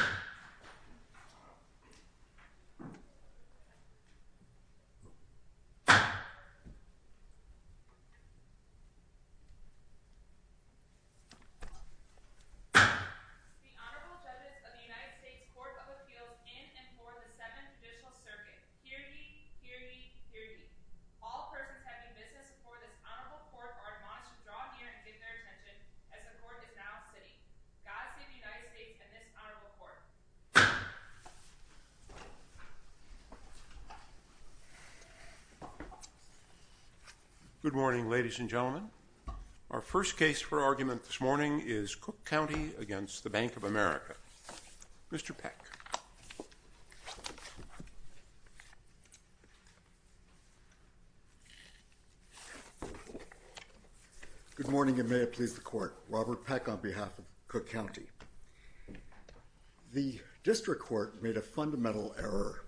The Honorable Judges of the United States Court of Appeals in and for the 7th Judicial Circuit. Hear ye, hear ye, hear ye. All persons having business before this honorable court are admonished to draw near and give their attention, as the court is now sitting. God save the United States and this honorable court. Good morning, ladies and gentlemen. Our first case for argument this morning is Cook County v. Bank of America. Mr. Peck. Good morning, and may it please the Court. Robert Peck on behalf of Cook County. The district court made a fundamental error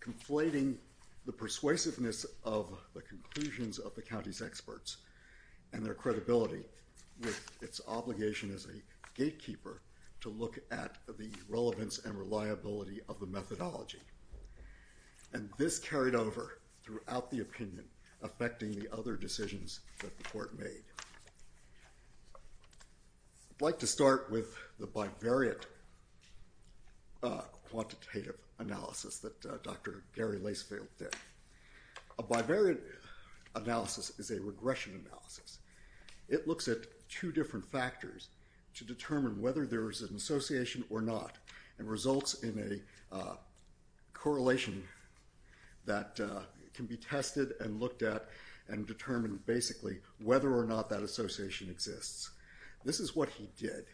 conflating the persuasiveness of the conclusions of the county's experts and their credibility with its obligation as a gatekeeper to look at the relevance and reliability of the methodology. And this carried over throughout the opinion, affecting the other decisions that the court made. I'd like to start with the bivariate quantitative analysis that Dr. Gary Lacefield did. A bivariate analysis is a regression analysis. It looks at two different factors to determine whether there is an association or not and results in a correlation that can be tested and looked at and determine basically whether or not that association exists. This is what he did.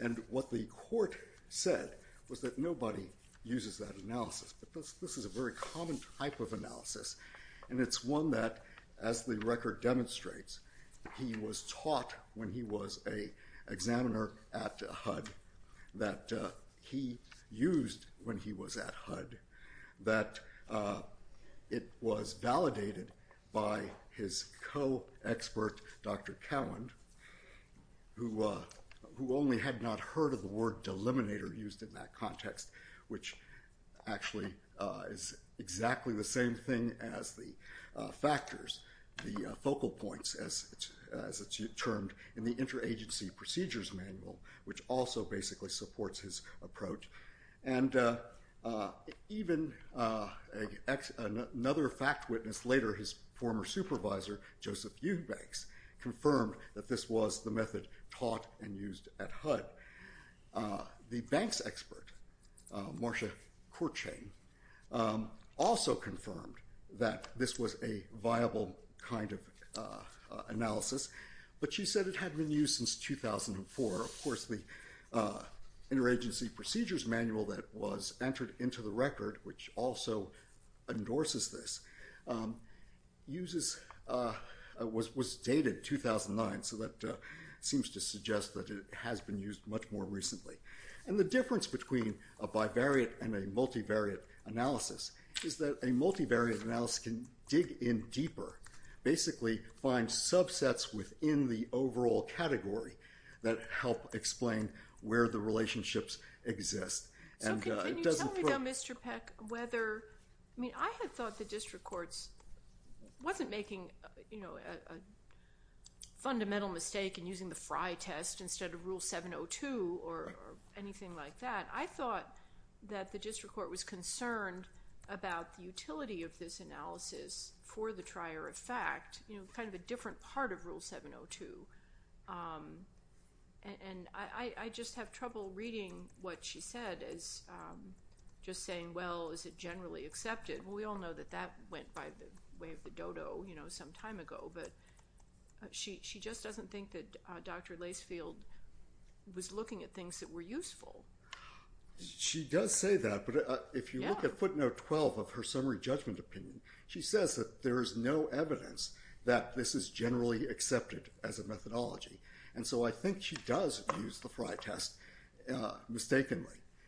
And what the court said was that nobody uses that analysis, but this is a very common type of analysis. And it's one that, as the record demonstrates, he was taught when he was an examiner at HUD that he used when he was at HUD, that it was validated by his co-expert, Dr. Cowan, who only had not heard of the word deliminator used in that context, which actually is exactly the same thing as the factors, the focal points, as it's termed in the Interagency Procedures Manual, which also basically supports his approach. And even another fact witness later, his former supervisor, Joseph Eubanks, confirmed that this was the method taught and used at HUD. The banks expert, Marsha Courchene, also confirmed that this was a viable kind of analysis, but she said it had been used since 2004. Of course, the Interagency Procedures Manual that was entered into the record, which also endorses this, was dated 2009. So that seems to suggest that it has been used much more recently. And the difference between a bivariate and a multivariate analysis is that a multivariate analysis can dig in deeper, basically find subsets within the overall category that help explain where the relationships exist. So can you tell me, though, Mr. Peck, whether—I mean, I had thought the district court wasn't making a fundamental mistake in using the Frye test instead of Rule 702 or anything like that. I thought that the district court was concerned about the utility of this analysis for the trier of fact, you know, kind of a different part of Rule 702. And I just have trouble reading what she said as just saying, well, is it generally accepted? Well, we all know that that went by the way of the dodo, you know, some time ago, but she just doesn't think that Dr. Lasefield was looking at things that were useful. She does say that, but if you look at footnote 12 of her summary judgment opinion, she says that there is no evidence that this is generally accepted as a methodology. And so I think she does use the Frye test mistakenly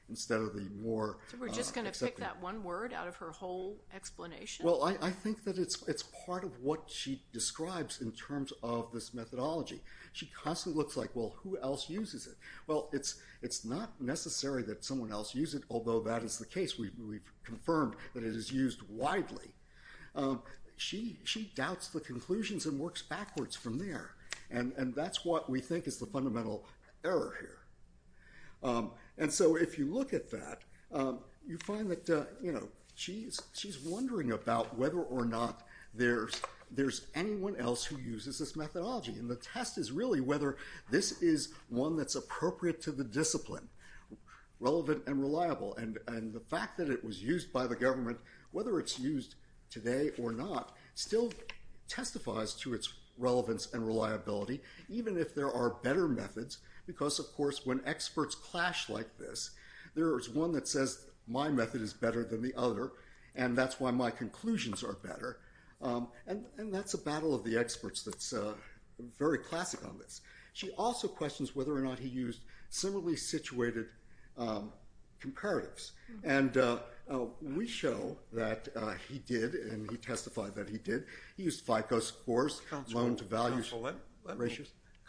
instead of the more— So we're just going to pick that one word out of her whole explanation? Well, I think that it's part of what she describes in terms of this methodology. She constantly looks like, well, who else uses it? Well, it's not necessary that someone else use it, although that is the case. We've confirmed that it is used widely. She doubts the conclusions and works backwards from there. And that's what we think is the fundamental error here. And so if you look at that, you find that, you know, she's wondering about whether or not there's anyone else who uses this methodology. And the test is really whether this is one that's appropriate to the discipline, relevant and reliable. And the fact that it was used by the government, whether it's used today or not, still testifies to its relevance and reliability, even if there are better methods. Because of course, when experts clash like this, there is one that says my method is better than the other, and that's why my conclusions are better. And that's a battle of the experts that's very classic on this. She also questions whether or not he used similarly situated comparatives. And we show that he did, and he testified that he did. He used FICO scores, loan to values ratios. Counsel, let me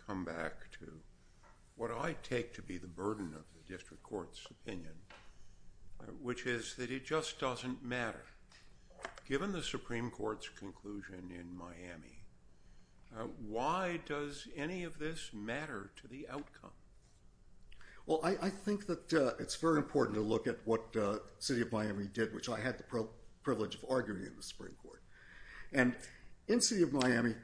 come back to what I take to be the burden of the district court's opinion, which is that it just doesn't matter. Given the Supreme Court's conclusion in Miami, why does any of this matter to the outcome? Well, I think that it's very important to look at what the city of Miami did, which I had the privilege of arguing in the Supreme Court. And in the city of Miami,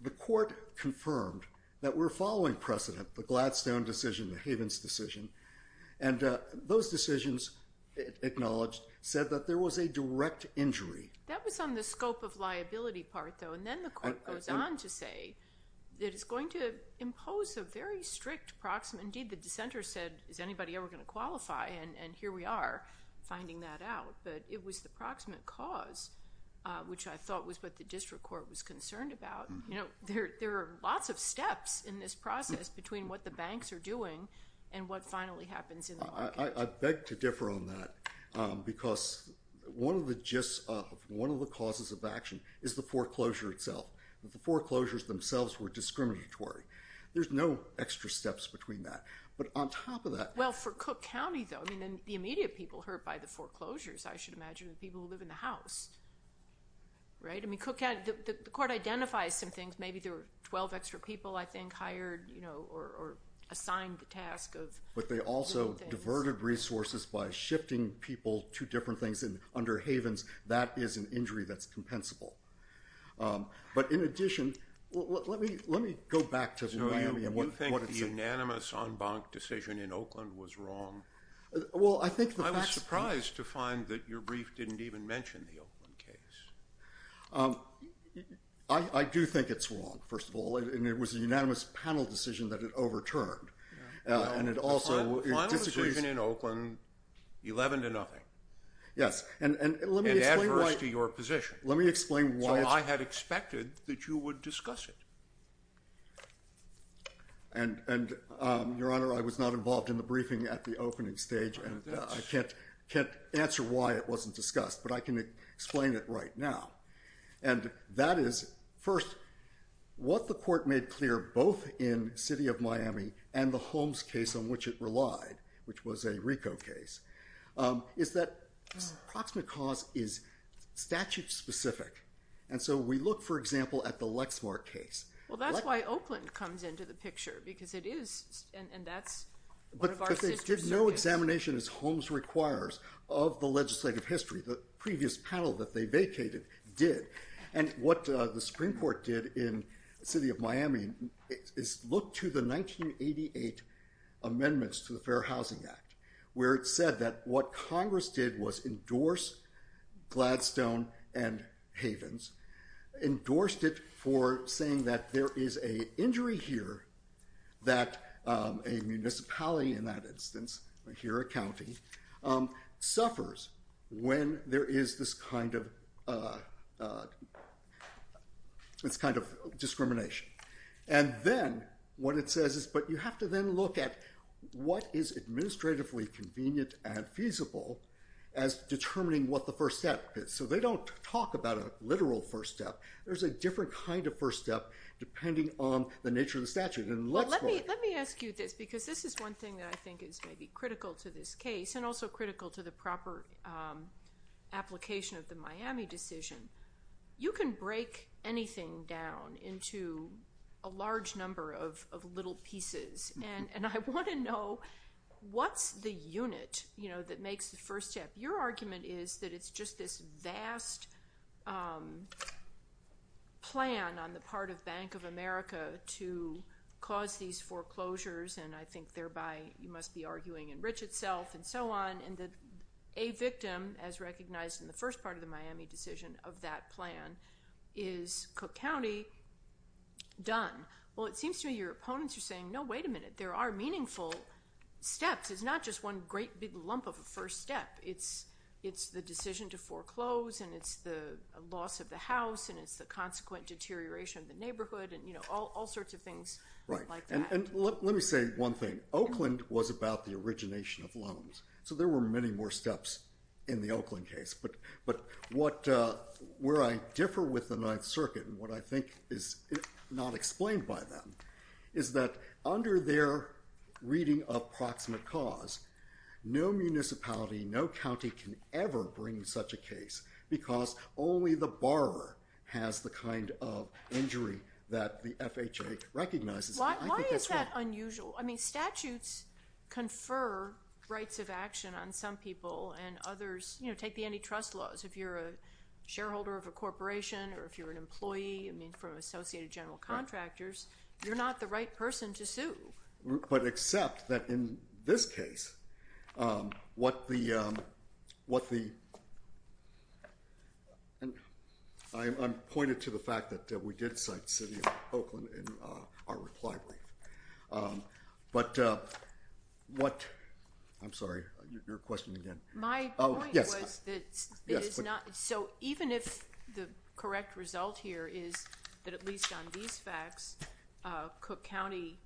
the court confirmed that we're following precedent, the Gladstone decision, the Havens decision. And those decisions, it acknowledged, said that there was a direct injury. That was on the scope of liability part though, and then the court goes on to say that it's going to impose a very strict proximate, indeed the dissenter said, is anybody ever going to qualify? And here we are finding that out. But it was the proximate cause, which I thought was what the district court was concerned about. There are lots of steps in this process between what the banks are doing and what finally happens in the market. I beg to differ on that, because one of the gist of, one of the causes of action is the foreclosure itself. The foreclosures themselves were discriminatory. There's no extra steps between that. But on top of that- Well, for Cook County though, I mean, the immediate people hurt by the foreclosures, I should imagine, are the people who live in the house. Right? I mean, Cook County, the court identifies some things. Maybe there were 12 extra people, I think, hired or assigned the task of- But they also diverted resources by shifting people to different things. Under Havens, that is an injury that's compensable. But in addition, let me go back to Miami and what it's- Well, I think the facts- I was surprised to find that your brief didn't even mention the Oakland case. I do think it's wrong, first of all, and it was a unanimous panel decision that it overturned. And it also disagrees- The final decision in Oakland, 11 to nothing. Yes. And let me explain why- And adverse to your position. Let me explain why it's- So I had expected that you would discuss it. And, Your Honor, I was not involved in the briefing at the opening stage, and I can't answer why it wasn't discussed, but I can explain it right now. And that is, first, what the court made clear both in City of Miami and the Holmes case on which it relied, which was a RICO case, is that proximate cause is statute-specific. And so we look, for example, at the Lexmark case. Well, that's why Oakland comes into the picture, because it is, and that's one of our sisters. But they did no examination, as Holmes requires, of the legislative history. The previous panel that they vacated did. And what the Supreme Court did in City of Miami is look to the 1988 amendments to the Fair Housing Act, where it said that what Congress did was endorse Gladstone and Havens, endorsed it for saying that there is an injury here that a municipality, in that instance, here a county, suffers when there is this kind of discrimination. And then what it says is, but you have to then look at what is administratively convenient and feasible as determining what the first step is. So they don't talk about a literal first step. There's a different kind of first step depending on the nature of the statute in Lexmark. Let me ask you this, because this is one thing that I think is maybe critical to this case and also critical to the proper application of the Miami decision. You can break anything down into a large number of little pieces. And I want to know, what's the unit that makes the first step? Your argument is that it's just this vast plan on the part of Bank of America to cause these foreclosures, and I think thereby you must be arguing enrich itself and so on, and that a victim, as recognized in the first part of the Miami decision of that plan, is Cook County done. Well, it seems to me your opponents are saying, no, wait a minute, there are meaningful steps. It's not just one great big lump of a first step. It's the decision to foreclose, and it's the loss of the house, and it's the consequent deterioration of the neighborhood, and all sorts of things like that. Right. And let me say one thing. Oakland was about the origination of loans, so there were many more steps in the Oakland case. But where I differ with the Ninth Circuit, and what I think is not explained by them, is that under their reading of proximate cause, no municipality, no county can ever bring such a case, because only the borrower has the kind of injury that the FHA recognizes. Why is that unusual? I mean, statutes confer rights of action on some people, and others take the antitrust laws. If you're a shareholder of a corporation, or if you're an employee, I mean, from associated general contractors, you're not the right person to sue. But except that in this case, what the, I'm pointed to the fact that we did cite the city of Oakland in our reply brief. But what, I'm sorry, your question again. My point was that it is not, so even if the correct result here is that at least on the basis of these facts, Cook County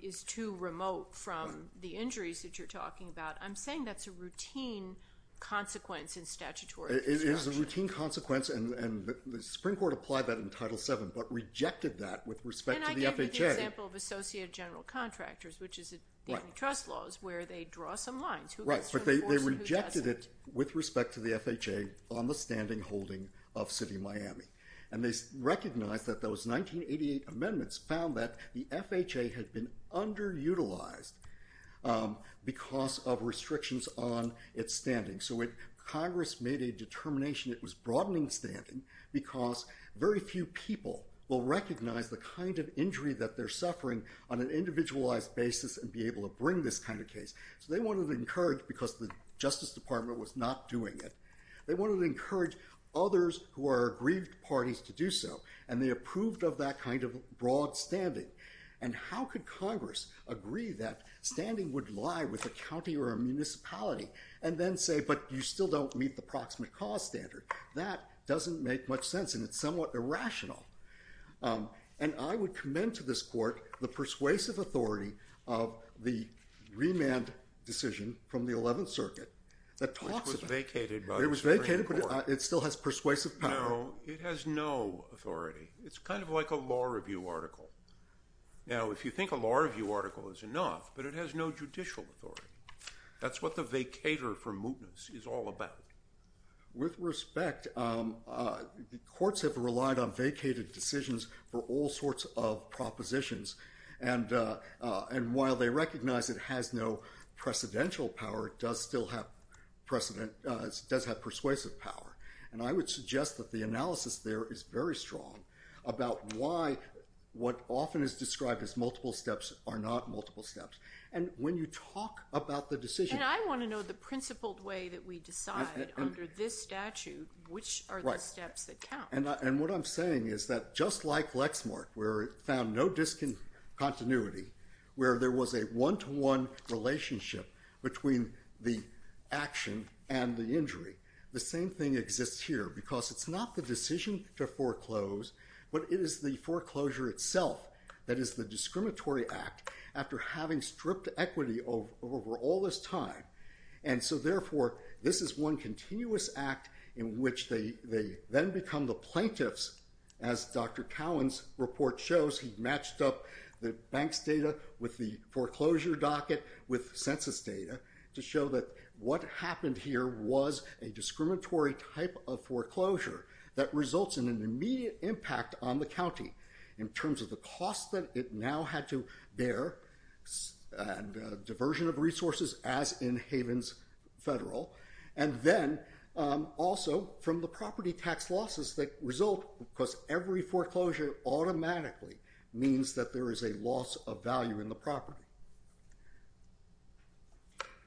is too remote from the injuries that you're talking about. I'm saying that's a routine consequence in statutory construction. It is a routine consequence, and the Supreme Court applied that in Title VII, but rejected that with respect to the FHA. And I gave you the example of associated general contractors, which is the antitrust laws, where they draw some lines, who gets to enforce and who doesn't. Right, but they rejected it with respect to the FHA on the standing holding of City of Miami. And they recognized that those 1988 amendments found that the FHA had been underutilized because of restrictions on its standing. So when Congress made a determination, it was broadening standing, because very few people will recognize the kind of injury that they're suffering on an individualized basis and be able to bring this kind of case. So they wanted to encourage, because the Justice Department was not doing it, they wanted to encourage parties to do so. And they approved of that kind of broad standing. And how could Congress agree that standing would lie with a county or a municipality, and then say, but you still don't meet the proximate cause standard? That doesn't make much sense, and it's somewhat irrational. And I would commend to this Court the persuasive authority of the remand decision from the Eleventh Circuit that talks about it. Which was vacated by the Supreme Court. It was vacated, but it still has persuasive power. No, it has no authority. It's kind of like a law review article. Now if you think a law review article is enough, but it has no judicial authority. That's what the vacator for mootness is all about. With respect, courts have relied on vacated decisions for all sorts of propositions. And while they recognize it has no precedential power, it does still have persuasive power. And I would suggest that the analysis there is very strong about why what often is described as multiple steps are not multiple steps. And when you talk about the decision... And I want to know the principled way that we decide under this statute which are the steps that count. Right. And what I'm saying is that just like Lexmark, where it found no discontinuity, where there was a one-to-one relationship between the action and the injury. The same thing exists here, because it's not the decision to foreclose, but it is the foreclosure itself that is the discriminatory act after having stripped equity over all this time. And so therefore, this is one continuous act in which they then become the plaintiffs. As Dr. Cowan's report shows, he matched up the bank's data with the foreclosure docket with census data to show that what happened here was a discriminatory type of foreclosure that results in an immediate impact on the county in terms of the cost that it now had to bear and diversion of resources, as in Havens Federal, and then also from the property tax losses that result, because every foreclosure automatically means that there is a loss of property.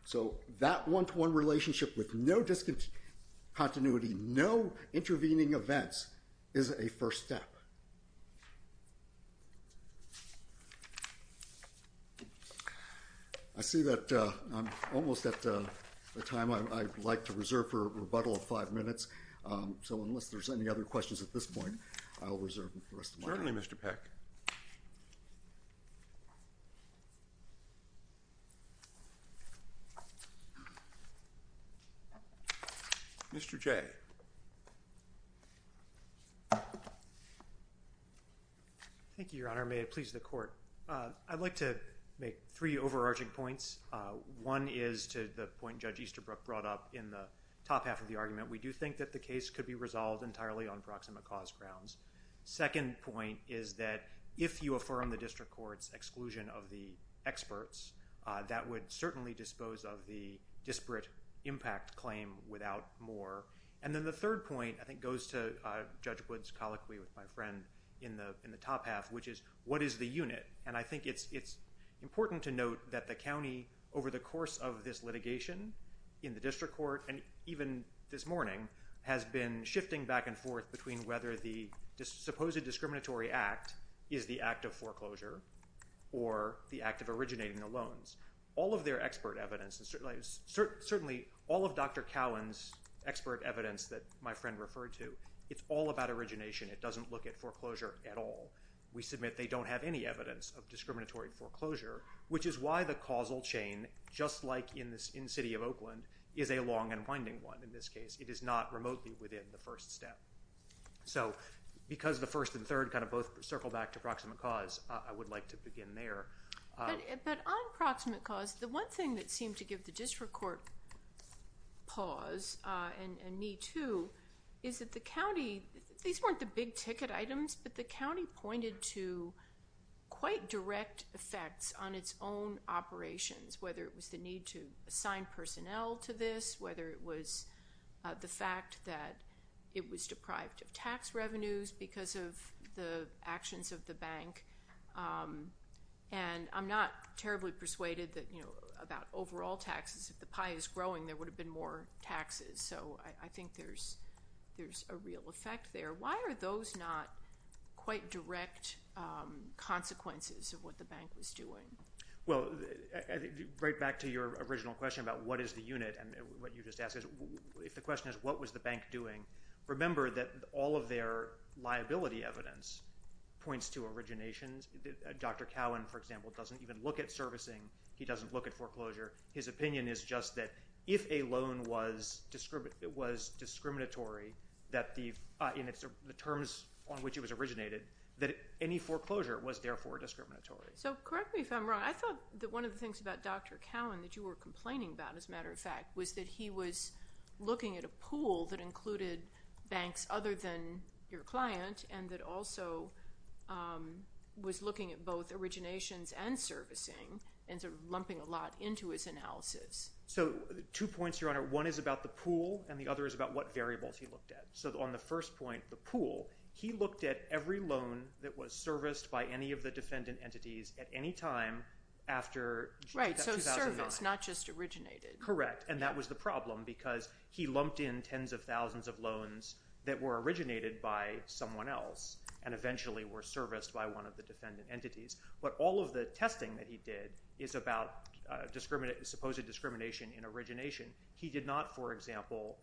So that one-to-one relationship with no discontinuity, no intervening events, is a first step. I see that I'm almost at the time I'd like to reserve for a rebuttal of five minutes, so unless there's any other questions at this point, I'll reserve the rest of my time. Certainly, Mr. Peck. Mr. J. Thank you, Your Honor. May it please the Court. I'd like to make three overarching points. One is to the point Judge Easterbrook brought up in the top half of the argument. We do think that the case could be resolved entirely on proximate cause grounds. Second point is that if you affirm the district court's exclusion of the experts, that would certainly dispose of the disparate impact claim without more. And then the third point, I think, goes to Judge Wood's colloquy with my friend in the top half, which is, what is the unit? And I think it's important to note that the county, over the course of this litigation in the district court, and even this morning, has been shifting back and forth between whether the supposed discriminatory act is the act of foreclosure or the act of originating the loans. All of their expert evidence, certainly all of Dr. Cowan's expert evidence that my friend referred to, it's all about origination. It doesn't look at foreclosure at all. We submit they don't have any evidence of discriminatory foreclosure, which is why the causal chain, just like in the city of Oakland, is a long and winding one in this case. It is not remotely within the first step. So because the first and third kind of both circle back to proximate cause, I would like to begin there. But on proximate cause, the one thing that seemed to give the district court pause, and me too, is that the county, these weren't the big ticket items, but the county pointed to quite direct effects on its own operations, whether it was the need to assign personnel to this, whether it was the fact that it was deprived of tax revenues because of the actions of the bank. And I'm not terribly persuaded that, you know, about overall taxes. If the pie is growing, there would have been more taxes. So I think there's a real effect there. Why are those not quite direct consequences of what the bank was doing? Well, right back to your original question about what is the unit, and what you just asked is, if the question is what was the bank doing, remember that all of their liability evidence points to originations. Dr. Cowan, for example, doesn't even look at servicing. He doesn't look at foreclosure. His opinion is just that if a loan was discriminatory in the terms on which it was originated, that any foreclosure was therefore discriminatory. So correct me if I'm wrong, I thought that one of the things about Dr. Cowan that you were complaining about, as a matter of fact, was that he was looking at a pool that included banks other than your client, and that also was looking at both originations and servicing and sort of lumping a lot into his analysis. So two points, Your Honor. One is about the pool, and the other is about what variables he looked at. So on the first point, the pool, he looked at every loan that was serviced by any of the defendant entities at any time after 2009. Right, so serviced, not just originated. Correct, and that was the problem, because he lumped in tens of thousands of loans that were originated by someone else and eventually were serviced by one of the defendant entities. But all of the testing that he did is about supposed discrimination in origination. He did not, for example,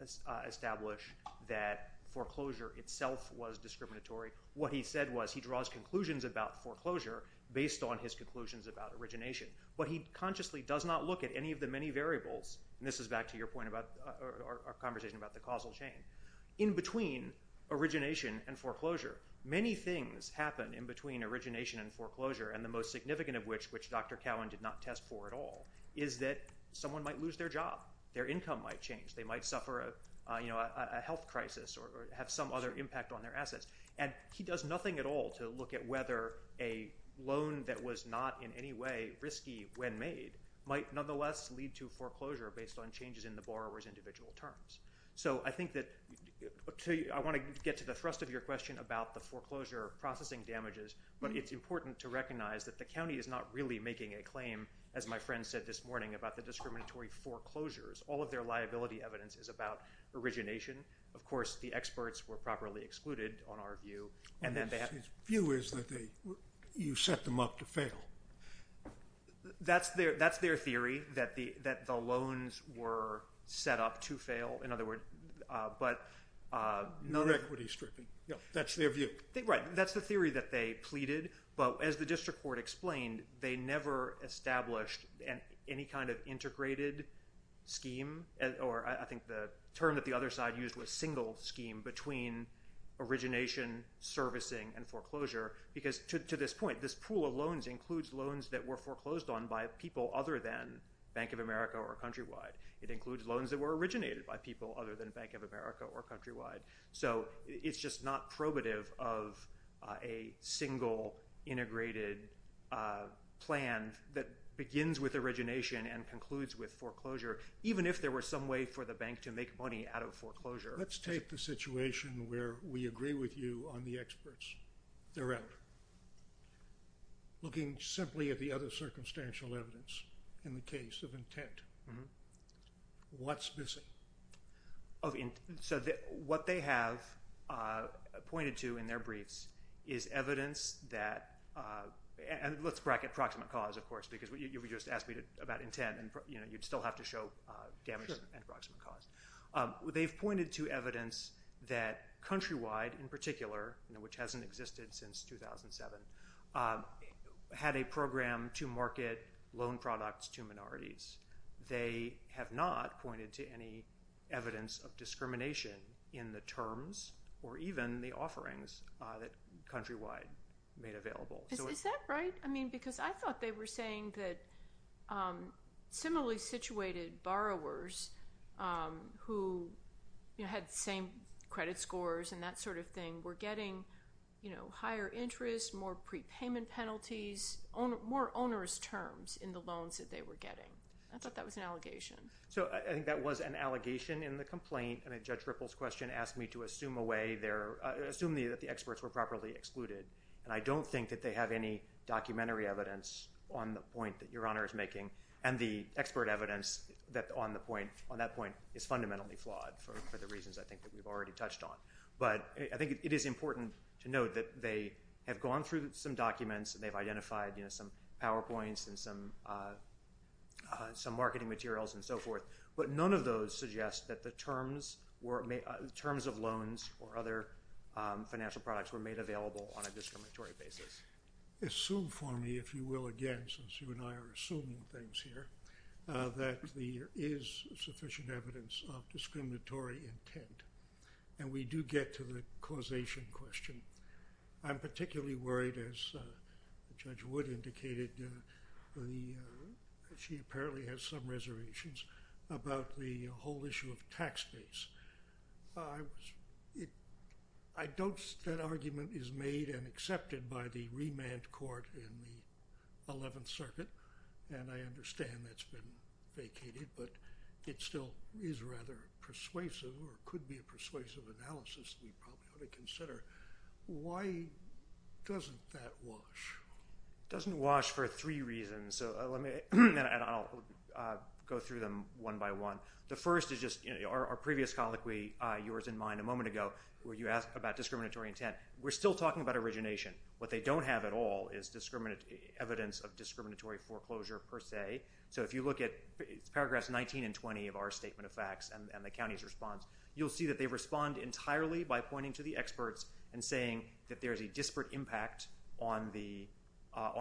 establish that foreclosure itself was discriminatory. What he said was he draws conclusions about foreclosure based on his conclusions about origination, but he consciously does not look at any of the many variables, and this is back to your point about our conversation about the causal chain, in between origination and foreclosure. Many things happen in between origination and foreclosure, and the most significant of which, which Dr. Cowan did not test for at all, is that someone might lose their job. Their income might change. They might suffer a health crisis or have some other impact on their assets, and he does nothing at all to look at whether a loan that was not in any way risky when made might nonetheless lead to foreclosure based on changes in the borrower's individual terms. So I think that—I want to get to the thrust of your question about the foreclosure processing damages, but it's important to recognize that the county is not really making a claim, as my friend said this morning, about the discriminatory foreclosures. All of their liability evidence is about origination. Of course, the experts were properly excluded, on our view, and then they— His view is that you set them up to fail. That's their theory, that the loans were set up to fail, in other words, but— You're equity stripping. That's their view. Right. That's the theory that they pleaded, but as the district court explained, they never established any kind of integrated scheme, or I think the term that the other side used was single scheme between origination, servicing, and foreclosure, because to this point, this pool of loans includes loans that were foreclosed on by people other than Bank of America or Countrywide. It includes loans that were originated by people other than Bank of America or Countrywide. So it's just not probative of a single integrated plan that begins with origination and concludes with foreclosure, even if there were some way for the bank to make money out of foreclosure. Let's take the situation where we agree with you on the experts. They're out. Looking simply at the other circumstantial evidence in the case of intent, what's missing? So what they have pointed to in their briefs is evidence that—and let's bracket proximate cause, of course, because you just asked me about intent, and you'd still have to show damage and proximate cause. They've pointed to evidence that Countrywide, in particular, which hasn't existed since 2007, had a program to market loan products to minorities. They have not pointed to any evidence of discrimination in the terms or even the offerings that Countrywide made available. Is that right? Because I thought they were saying that similarly situated borrowers who had the same credit scores and that sort of thing were getting higher interest, more prepayment penalties, more onerous terms in the loans that they were getting. I thought that was an allegation. So I think that was an allegation in the complaint. I mean, Judge Ripple's question asked me to assume a way there—assume that the experts were properly excluded. And I don't think that they have any documentary evidence on the point that Your Honor is making and the expert evidence on that point is fundamentally flawed for the reasons I think that we've already touched on. But I think it is important to note that they have gone through some documents and they've identified some PowerPoints and some marketing materials and so forth. But none of those suggest that the terms of loans or other financial products were made available on a discriminatory basis. Assume for me, if you will, again, since you and I are assuming things here, that there is sufficient evidence of discriminatory intent. And we do get to the causation question. I'm particularly worried, as Judge Wood indicated, she apparently has some reservations about the whole issue of tax base. I don't—that argument is made and accepted by the remand court in the Eleventh Circuit, and I understand that's been vacated, but it still is rather persuasive or could be Why doesn't that wash? It doesn't wash for three reasons, and I'll go through them one by one. The first is just our previous colloquy, yours and mine, a moment ago, where you asked about discriminatory intent. We're still talking about origination. What they don't have at all is evidence of discriminatory foreclosure per se. So if you look at paragraphs 19 and 20 of our Statement of Facts and the county's response, you'll see that they respond entirely by pointing to the experts and saying that there's a disparate impact on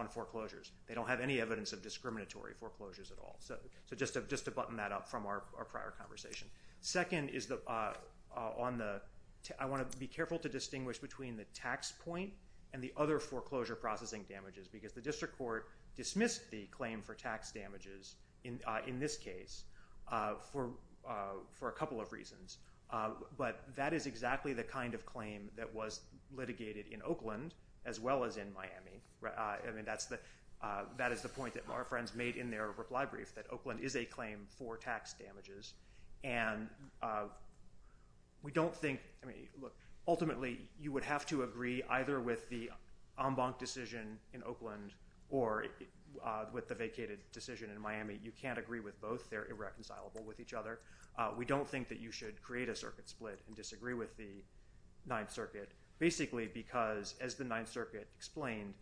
foreclosures. They don't have any evidence of discriminatory foreclosures at all. So just to button that up from our prior conversation. Second is on the—I want to be careful to distinguish between the tax point and the other foreclosure processing damages, because the district court dismissed the claim for But that is exactly the kind of claim that was litigated in Oakland, as well as in Miami. That is the point that our friends made in their reply brief, that Oakland is a claim for tax damages, and we don't think—I mean, look, ultimately, you would have to agree either with the en banc decision in Oakland or with the vacated decision in Miami. You can't agree with both. They're irreconcilable with each other. We don't think that you should create a circuit split and disagree with the Ninth Circuit, basically because, as the Ninth Circuit explained,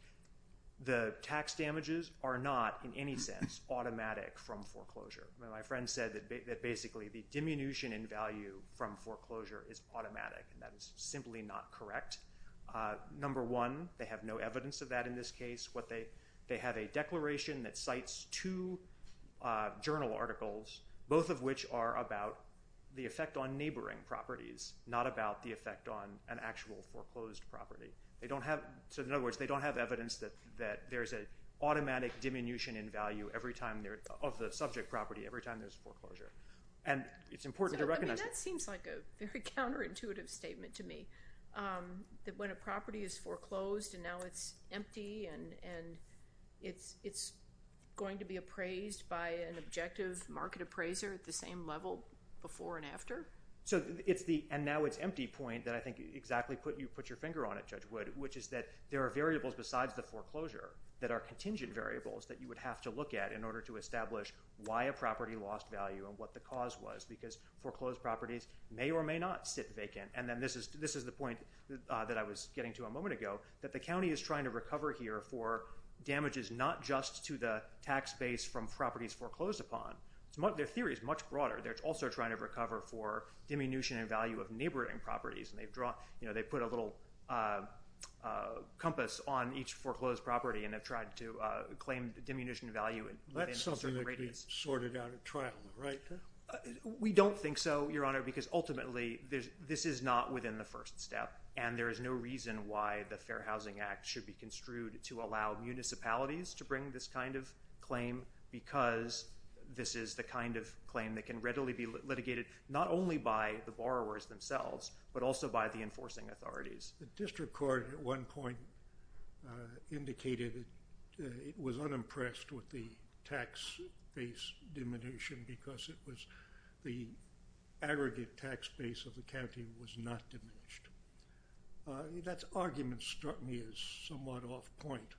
the tax damages are not, in any sense, automatic from foreclosure. My friend said that basically the diminution in value from foreclosure is automatic, and that is simply not correct. Number one, they have no evidence of that in this case. They have a declaration that cites two journal articles, both of which are about the effect on neighboring properties, not about the effect on an actual foreclosed property. So, in other words, they don't have evidence that there's an automatic diminution in value every time—of the subject property every time there's foreclosure. And it's important to recognize that. I mean, that seems like a very counterintuitive statement to me, that when a property is foreclosed and now it's empty and it's going to be appraised by an objective market appraiser at the same level before and after. So, it's the, and now it's empty point that I think exactly put your finger on it, Judge Wood, which is that there are variables besides the foreclosure that are contingent variables that you would have to look at in order to establish why a property lost value and what the cause was, because foreclosed properties may or may not sit vacant. And then this is the point that I was getting to a moment ago, that the county is trying to recover here for damages not just to the tax base from properties foreclosed upon. Their theory is much broader. They're also trying to recover for diminution in value of neighboring properties, and they've drawn, you know, they've put a little compass on each foreclosed property and have tried to claim the diminution in value within a certain radius. That's something that could be sorted out at trial, right? We don't think so, Your Honor, because ultimately this is not within the first step, and there is no reason why the Fair Housing Act should be construed to allow municipalities to bring this kind of claim, because this is the kind of claim that can readily be litigated not only by the borrowers themselves, but also by the enforcing authorities. The district court at one point indicated it was unimpressed with the tax base diminution because it was the aggregate tax base of the county was not diminished. That argument struck me as somewhat off point,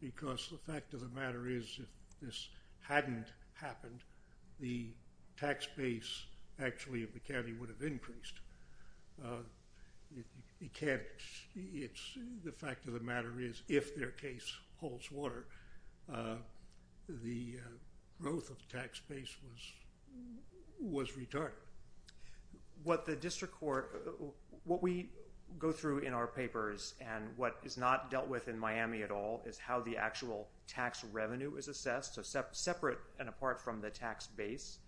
because the fact of the matter is if this hadn't happened, the tax base actually of the county would have increased. The fact of the matter is if their case holds water, the growth of the tax base was retarded. What the district court, what we go through in our papers and what is not dealt with in Miami at all is how the actual tax revenue is assessed, so separate and apart from the tax base.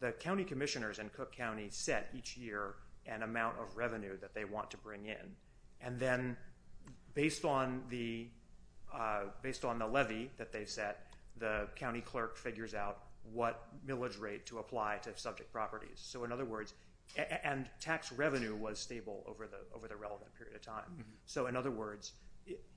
The county commissioners in Cook County set each year an amount of revenue that they want to bring in, and then based on the levy that they set, the county clerk figures out what millage rate to apply to subject properties. So in other words, and tax revenue was stable over the relevant period of time. So in other words,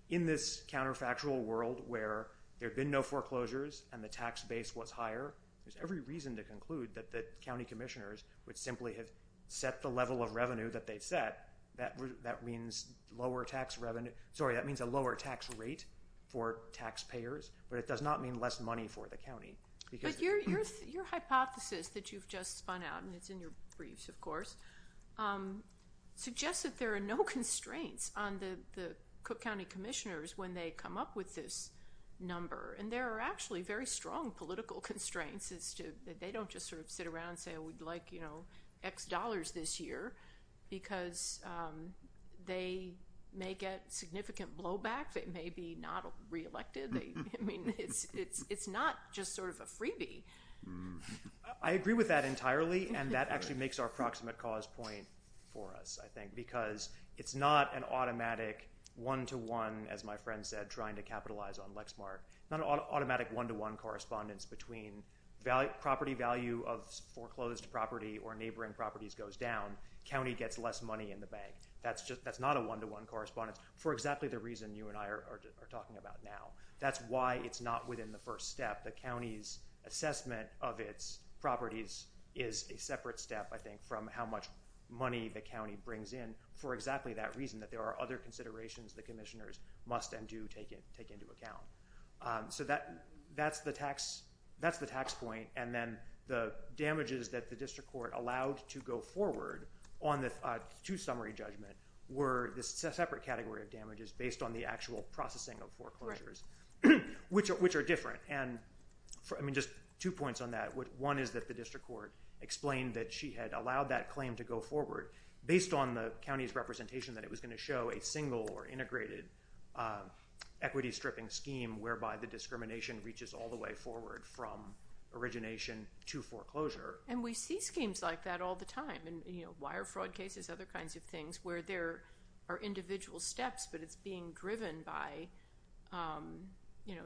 in this counterfactual world where there have been no foreclosures and the tax base was higher, there's every reason to conclude that the county commissioners would simply have set the level of revenue that they've set. That means a lower tax rate for taxpayers, but it does not mean less money for the county. Your hypothesis that you've just spun out, and it's in your briefs of course, suggests that there are no constraints on the Cook County commissioners when they come up with this number. And there are actually very strong political constraints as to, that they don't just sort of sit around and say, we'd like, you know, X dollars this year, because they may get significant blowback, they may be not reelected, I mean, it's not just sort of a freebie. I agree with that entirely, and that actually makes our proximate cause point for us, I think, because it's not an automatic one-to-one, as my friend said, trying to capitalize on an automatic one-to-one correspondence between property value of foreclosed property or neighboring properties goes down, county gets less money in the bank. That's not a one-to-one correspondence, for exactly the reason you and I are talking about now. That's why it's not within the first step, the county's assessment of its properties is a separate step, I think, from how much money the county brings in, for exactly that reason, that there are other considerations the commissioners must and do take into account. So that's the tax point, and then the damages that the district court allowed to go forward on the two-summary judgment were the separate category of damages based on the actual processing of foreclosures, which are different, and, I mean, just two points on that. One is that the district court explained that she had allowed that claim to go forward based on the county's representation that it was going to show a single or integrated equity stripping scheme whereby the discrimination reaches all the way forward from origination to foreclosure. And we see schemes like that all the time, and, you know, wire fraud cases, other kinds of things, where there are individual steps, but it's being driven by, you know,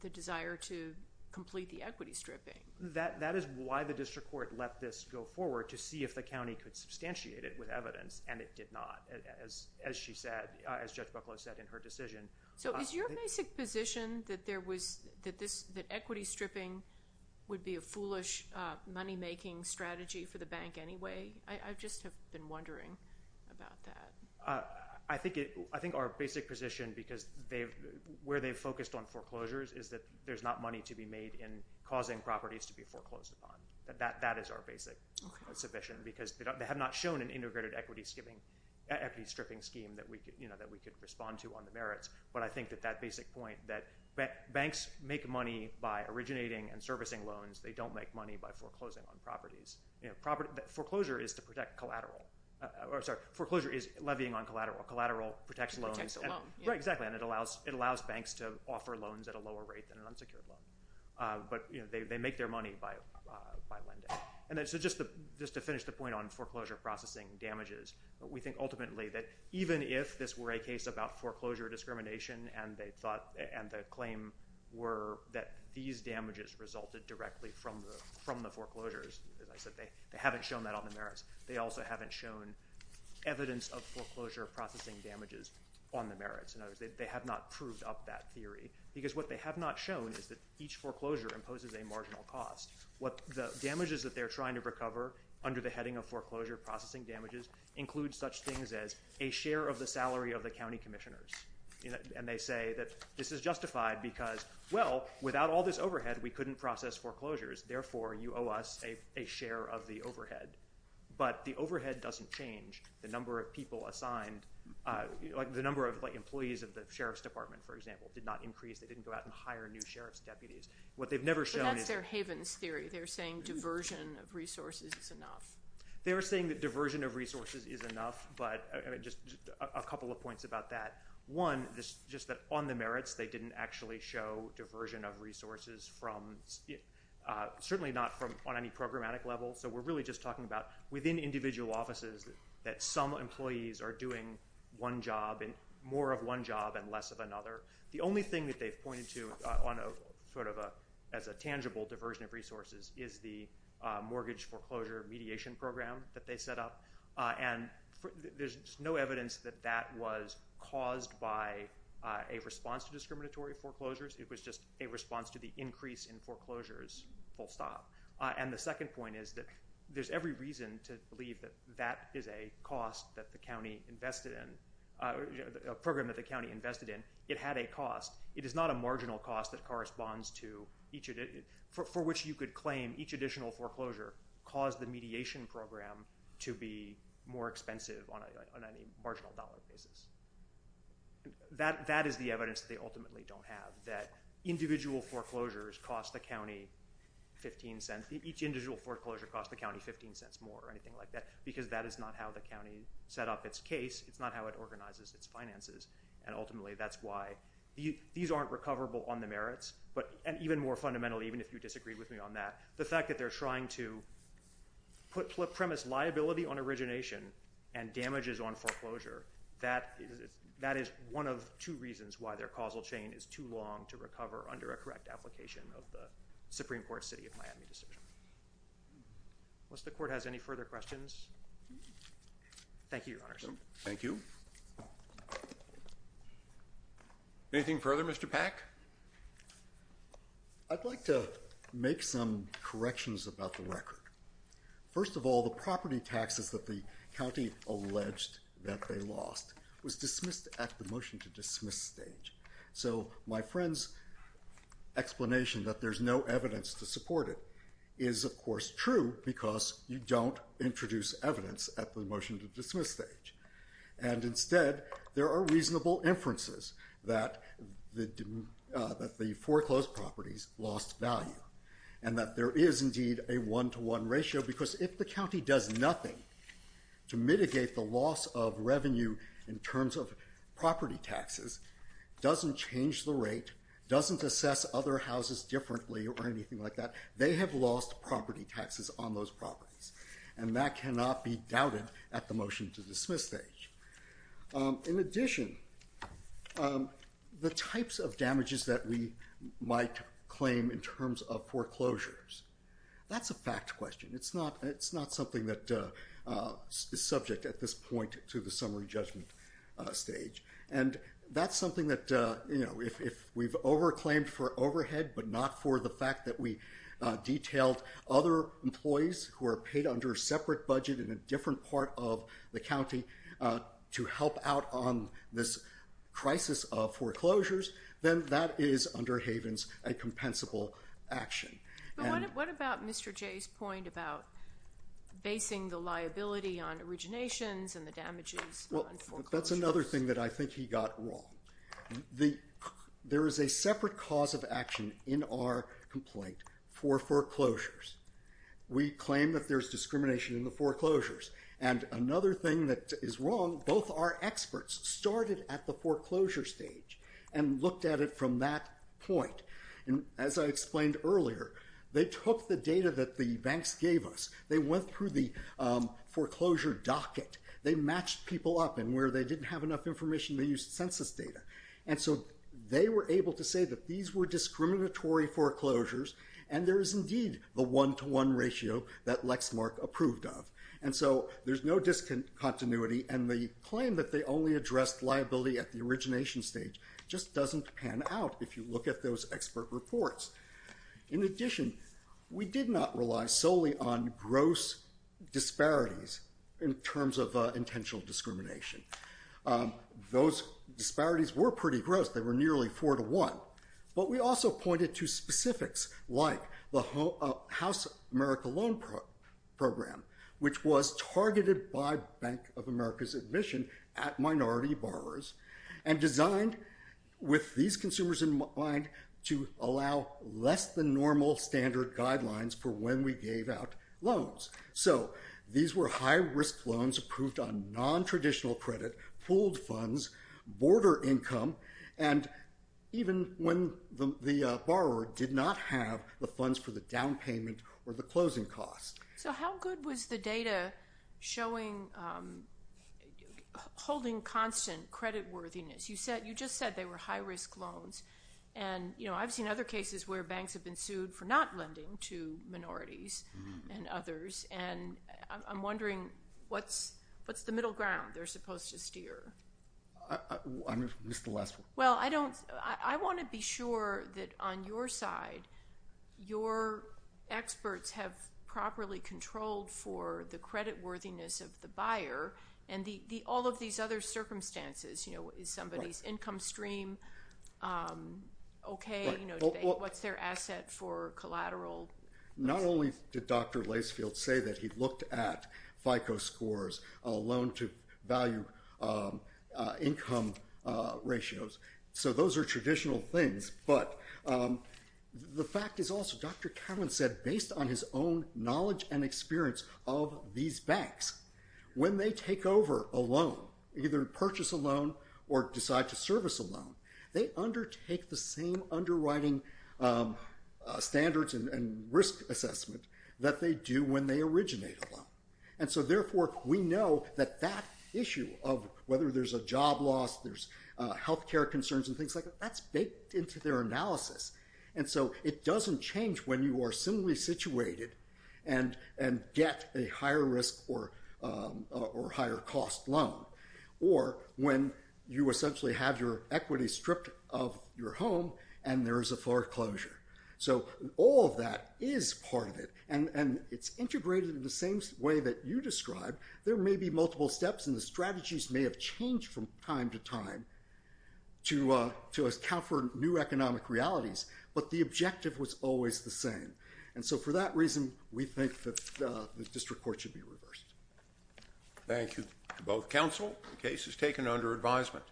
the desire to complete the equity stripping. That is why the district court let this go forward, to see if the county could substantiate it with evidence, and it did not, as she said, as Judge Bucklow said in her decision. So is your basic position that equity stripping would be a foolish money-making strategy for the bank anyway? I just have been wondering about that. I think our basic position, because where they've focused on foreclosures is that there's not money to be made in causing properties to be foreclosed upon. That is our basic submission, because they have not shown an integrated equity stripping scheme that we could respond to on the merits, but I think that that basic point that banks make money by originating and servicing loans. They don't make money by foreclosing on properties. Foreclosure is levying on collateral. Collateral protects loans. Protects the loan. Right, exactly, and it allows banks to offer loans at a lower rate than an unsecured loan. But they make their money by lending. And so just to finish the point on foreclosure processing damages, we think ultimately that even if this were a case about foreclosure discrimination and the claim were that these damages resulted directly from the foreclosures, as I said, they haven't shown that on the merits. They also haven't shown evidence of foreclosure processing damages on the merits. In other words, they have not proved up that theory, because what they have not shown is that each foreclosure imposes a marginal cost. What the damages that they're trying to recover under the heading of foreclosure processing damages include such things as a share of the salary of the county commissioners. And they say that this is justified because, well, without all this overhead, we couldn't process foreclosures, therefore you owe us a share of the overhead. But the overhead doesn't change the number of people assigned, like the number of employees of the sheriff's department, for example, did not increase. They didn't go out and hire new sheriff's deputies. What they've never shown is- But that's their Havens theory. They're saying diversion of resources is enough. They are saying that diversion of resources is enough, but just a couple of points about that. One, just that on the merits, they didn't actually show diversion of resources from- certainly not on any programmatic level. So we're really just talking about within individual offices that some employees are doing one job and more of one job and less of another. The only thing that they've pointed to on a sort of a- as a tangible diversion of resources is the mortgage foreclosure mediation program that they set up. And there's no evidence that that was caused by a response to discriminatory foreclosures. It was just a response to the increase in foreclosures, full stop. And the second point is that there's every reason to believe that that is a cost that the county invested in- a program that the county invested in. It had a cost. It is not a marginal cost that corresponds to each- for which you could claim each additional foreclosure caused the mediation program to be more expensive on a marginal dollar basis. That is the evidence that they ultimately don't have, that individual foreclosures cost the county 15 cents- each individual foreclosure cost the county 15 cents more or anything like that, because that is not how the county set up its case. It's not how it organizes its finances. And ultimately, that's why these aren't recoverable on the merits. But- and even more fundamentally, even if you disagree with me on that, the fact that they're trying to put premise liability on origination and damages on foreclosure, that is one of two reasons why their causal chain is too long to recover under a correct application of the Supreme Court's City of Miami decision. Unless the Court has any further questions. Thank you, Your Honors. Thank you. Thank you. Anything further, Mr. Pack? I'd like to make some corrections about the record. First of all, the property taxes that the county alleged that they lost was dismissed at the motion to dismiss stage. So my friend's explanation that there's no evidence to support it is, of course, true because you don't introduce evidence at the motion to dismiss stage. And instead, there are reasonable inferences that the foreclosed properties lost value. And that there is indeed a one-to-one ratio, because if the county does nothing to mitigate the loss of revenue in terms of property taxes, doesn't change the rate, doesn't assess other property taxes on those properties. And that cannot be doubted at the motion to dismiss stage. In addition, the types of damages that we might claim in terms of foreclosures, that's a fact question. It's not something that is subject at this point to the summary judgment stage. And that's something that, you know, if we've over-claimed for overhead but not for the employees who are paid under a separate budget in a different part of the county to help out on this crisis of foreclosures, then that is, under Havens, a compensable action. What about Mr. Jay's point about basing the liability on originations and the damages on foreclosures? Well, that's another thing that I think he got wrong. There is a separate cause of action in our complaint for foreclosures. We claim that there's discrimination in the foreclosures. And another thing that is wrong, both our experts started at the foreclosure stage and looked at it from that point. And as I explained earlier, they took the data that the banks gave us, they went through the foreclosure docket, they matched people up. And where they didn't have enough information, they used census data. And so they were able to say that these were discriminatory foreclosures, and there is indeed the one-to-one ratio that Lexmark approved of. And so there's no discontinuity, and the claim that they only addressed liability at the origination stage just doesn't pan out if you look at those expert reports. In addition, we did not rely solely on gross disparities in terms of intentional discrimination. Those disparities were pretty gross. They were nearly four-to-one. But we also pointed to specifics like the House America Loan Program, which was targeted by Bank of America's admission at minority borrowers, and designed with these consumers in mind to allow less-than-normal standard guidelines for when we gave out loans. So these were high-risk loans approved on nontraditional credit, pooled funds, border income, and even when the borrower did not have the funds for the down payment or the closing cost. So how good was the data showing, holding constant creditworthiness? You just said they were high-risk loans, and I've seen other cases where banks have been sued for not lending to minorities and others, and I'm wondering, what's the middle ground they're supposed to steer? I missed the last one. Well, I want to be sure that on your side, your experts have properly controlled for the creditworthiness of the buyer and all of these other circumstances. Is somebody's income stream okay? What's their asset for collateral? Not only did Dr. Lacefield say that he looked at FICO scores, loan-to-value income ratios, so those are traditional things, but the fact is also, Dr. Cowan said, based on his own knowledge and experience of these banks, when they take over a loan, either purchase a loan or decide to service a loan, they undertake the same underwriting standards and risk assessment that they do when they originate a loan. And so therefore, we know that that issue of whether there's a job loss, there's health care concerns and things like that, that's baked into their analysis. And so it doesn't change when you are similarly situated and get a higher risk or higher cost loan, or when you essentially have your equity stripped of your home and there is a foreclosure. So all of that is part of it, and it's integrated in the same way that you described. There may be multiple steps, and the strategies may have changed from time to time to account for new economic realities, but the objective was always the same. And so for that reason, we think that the district court should be reversed. Thank you to both counsel. The case is taken under advisement.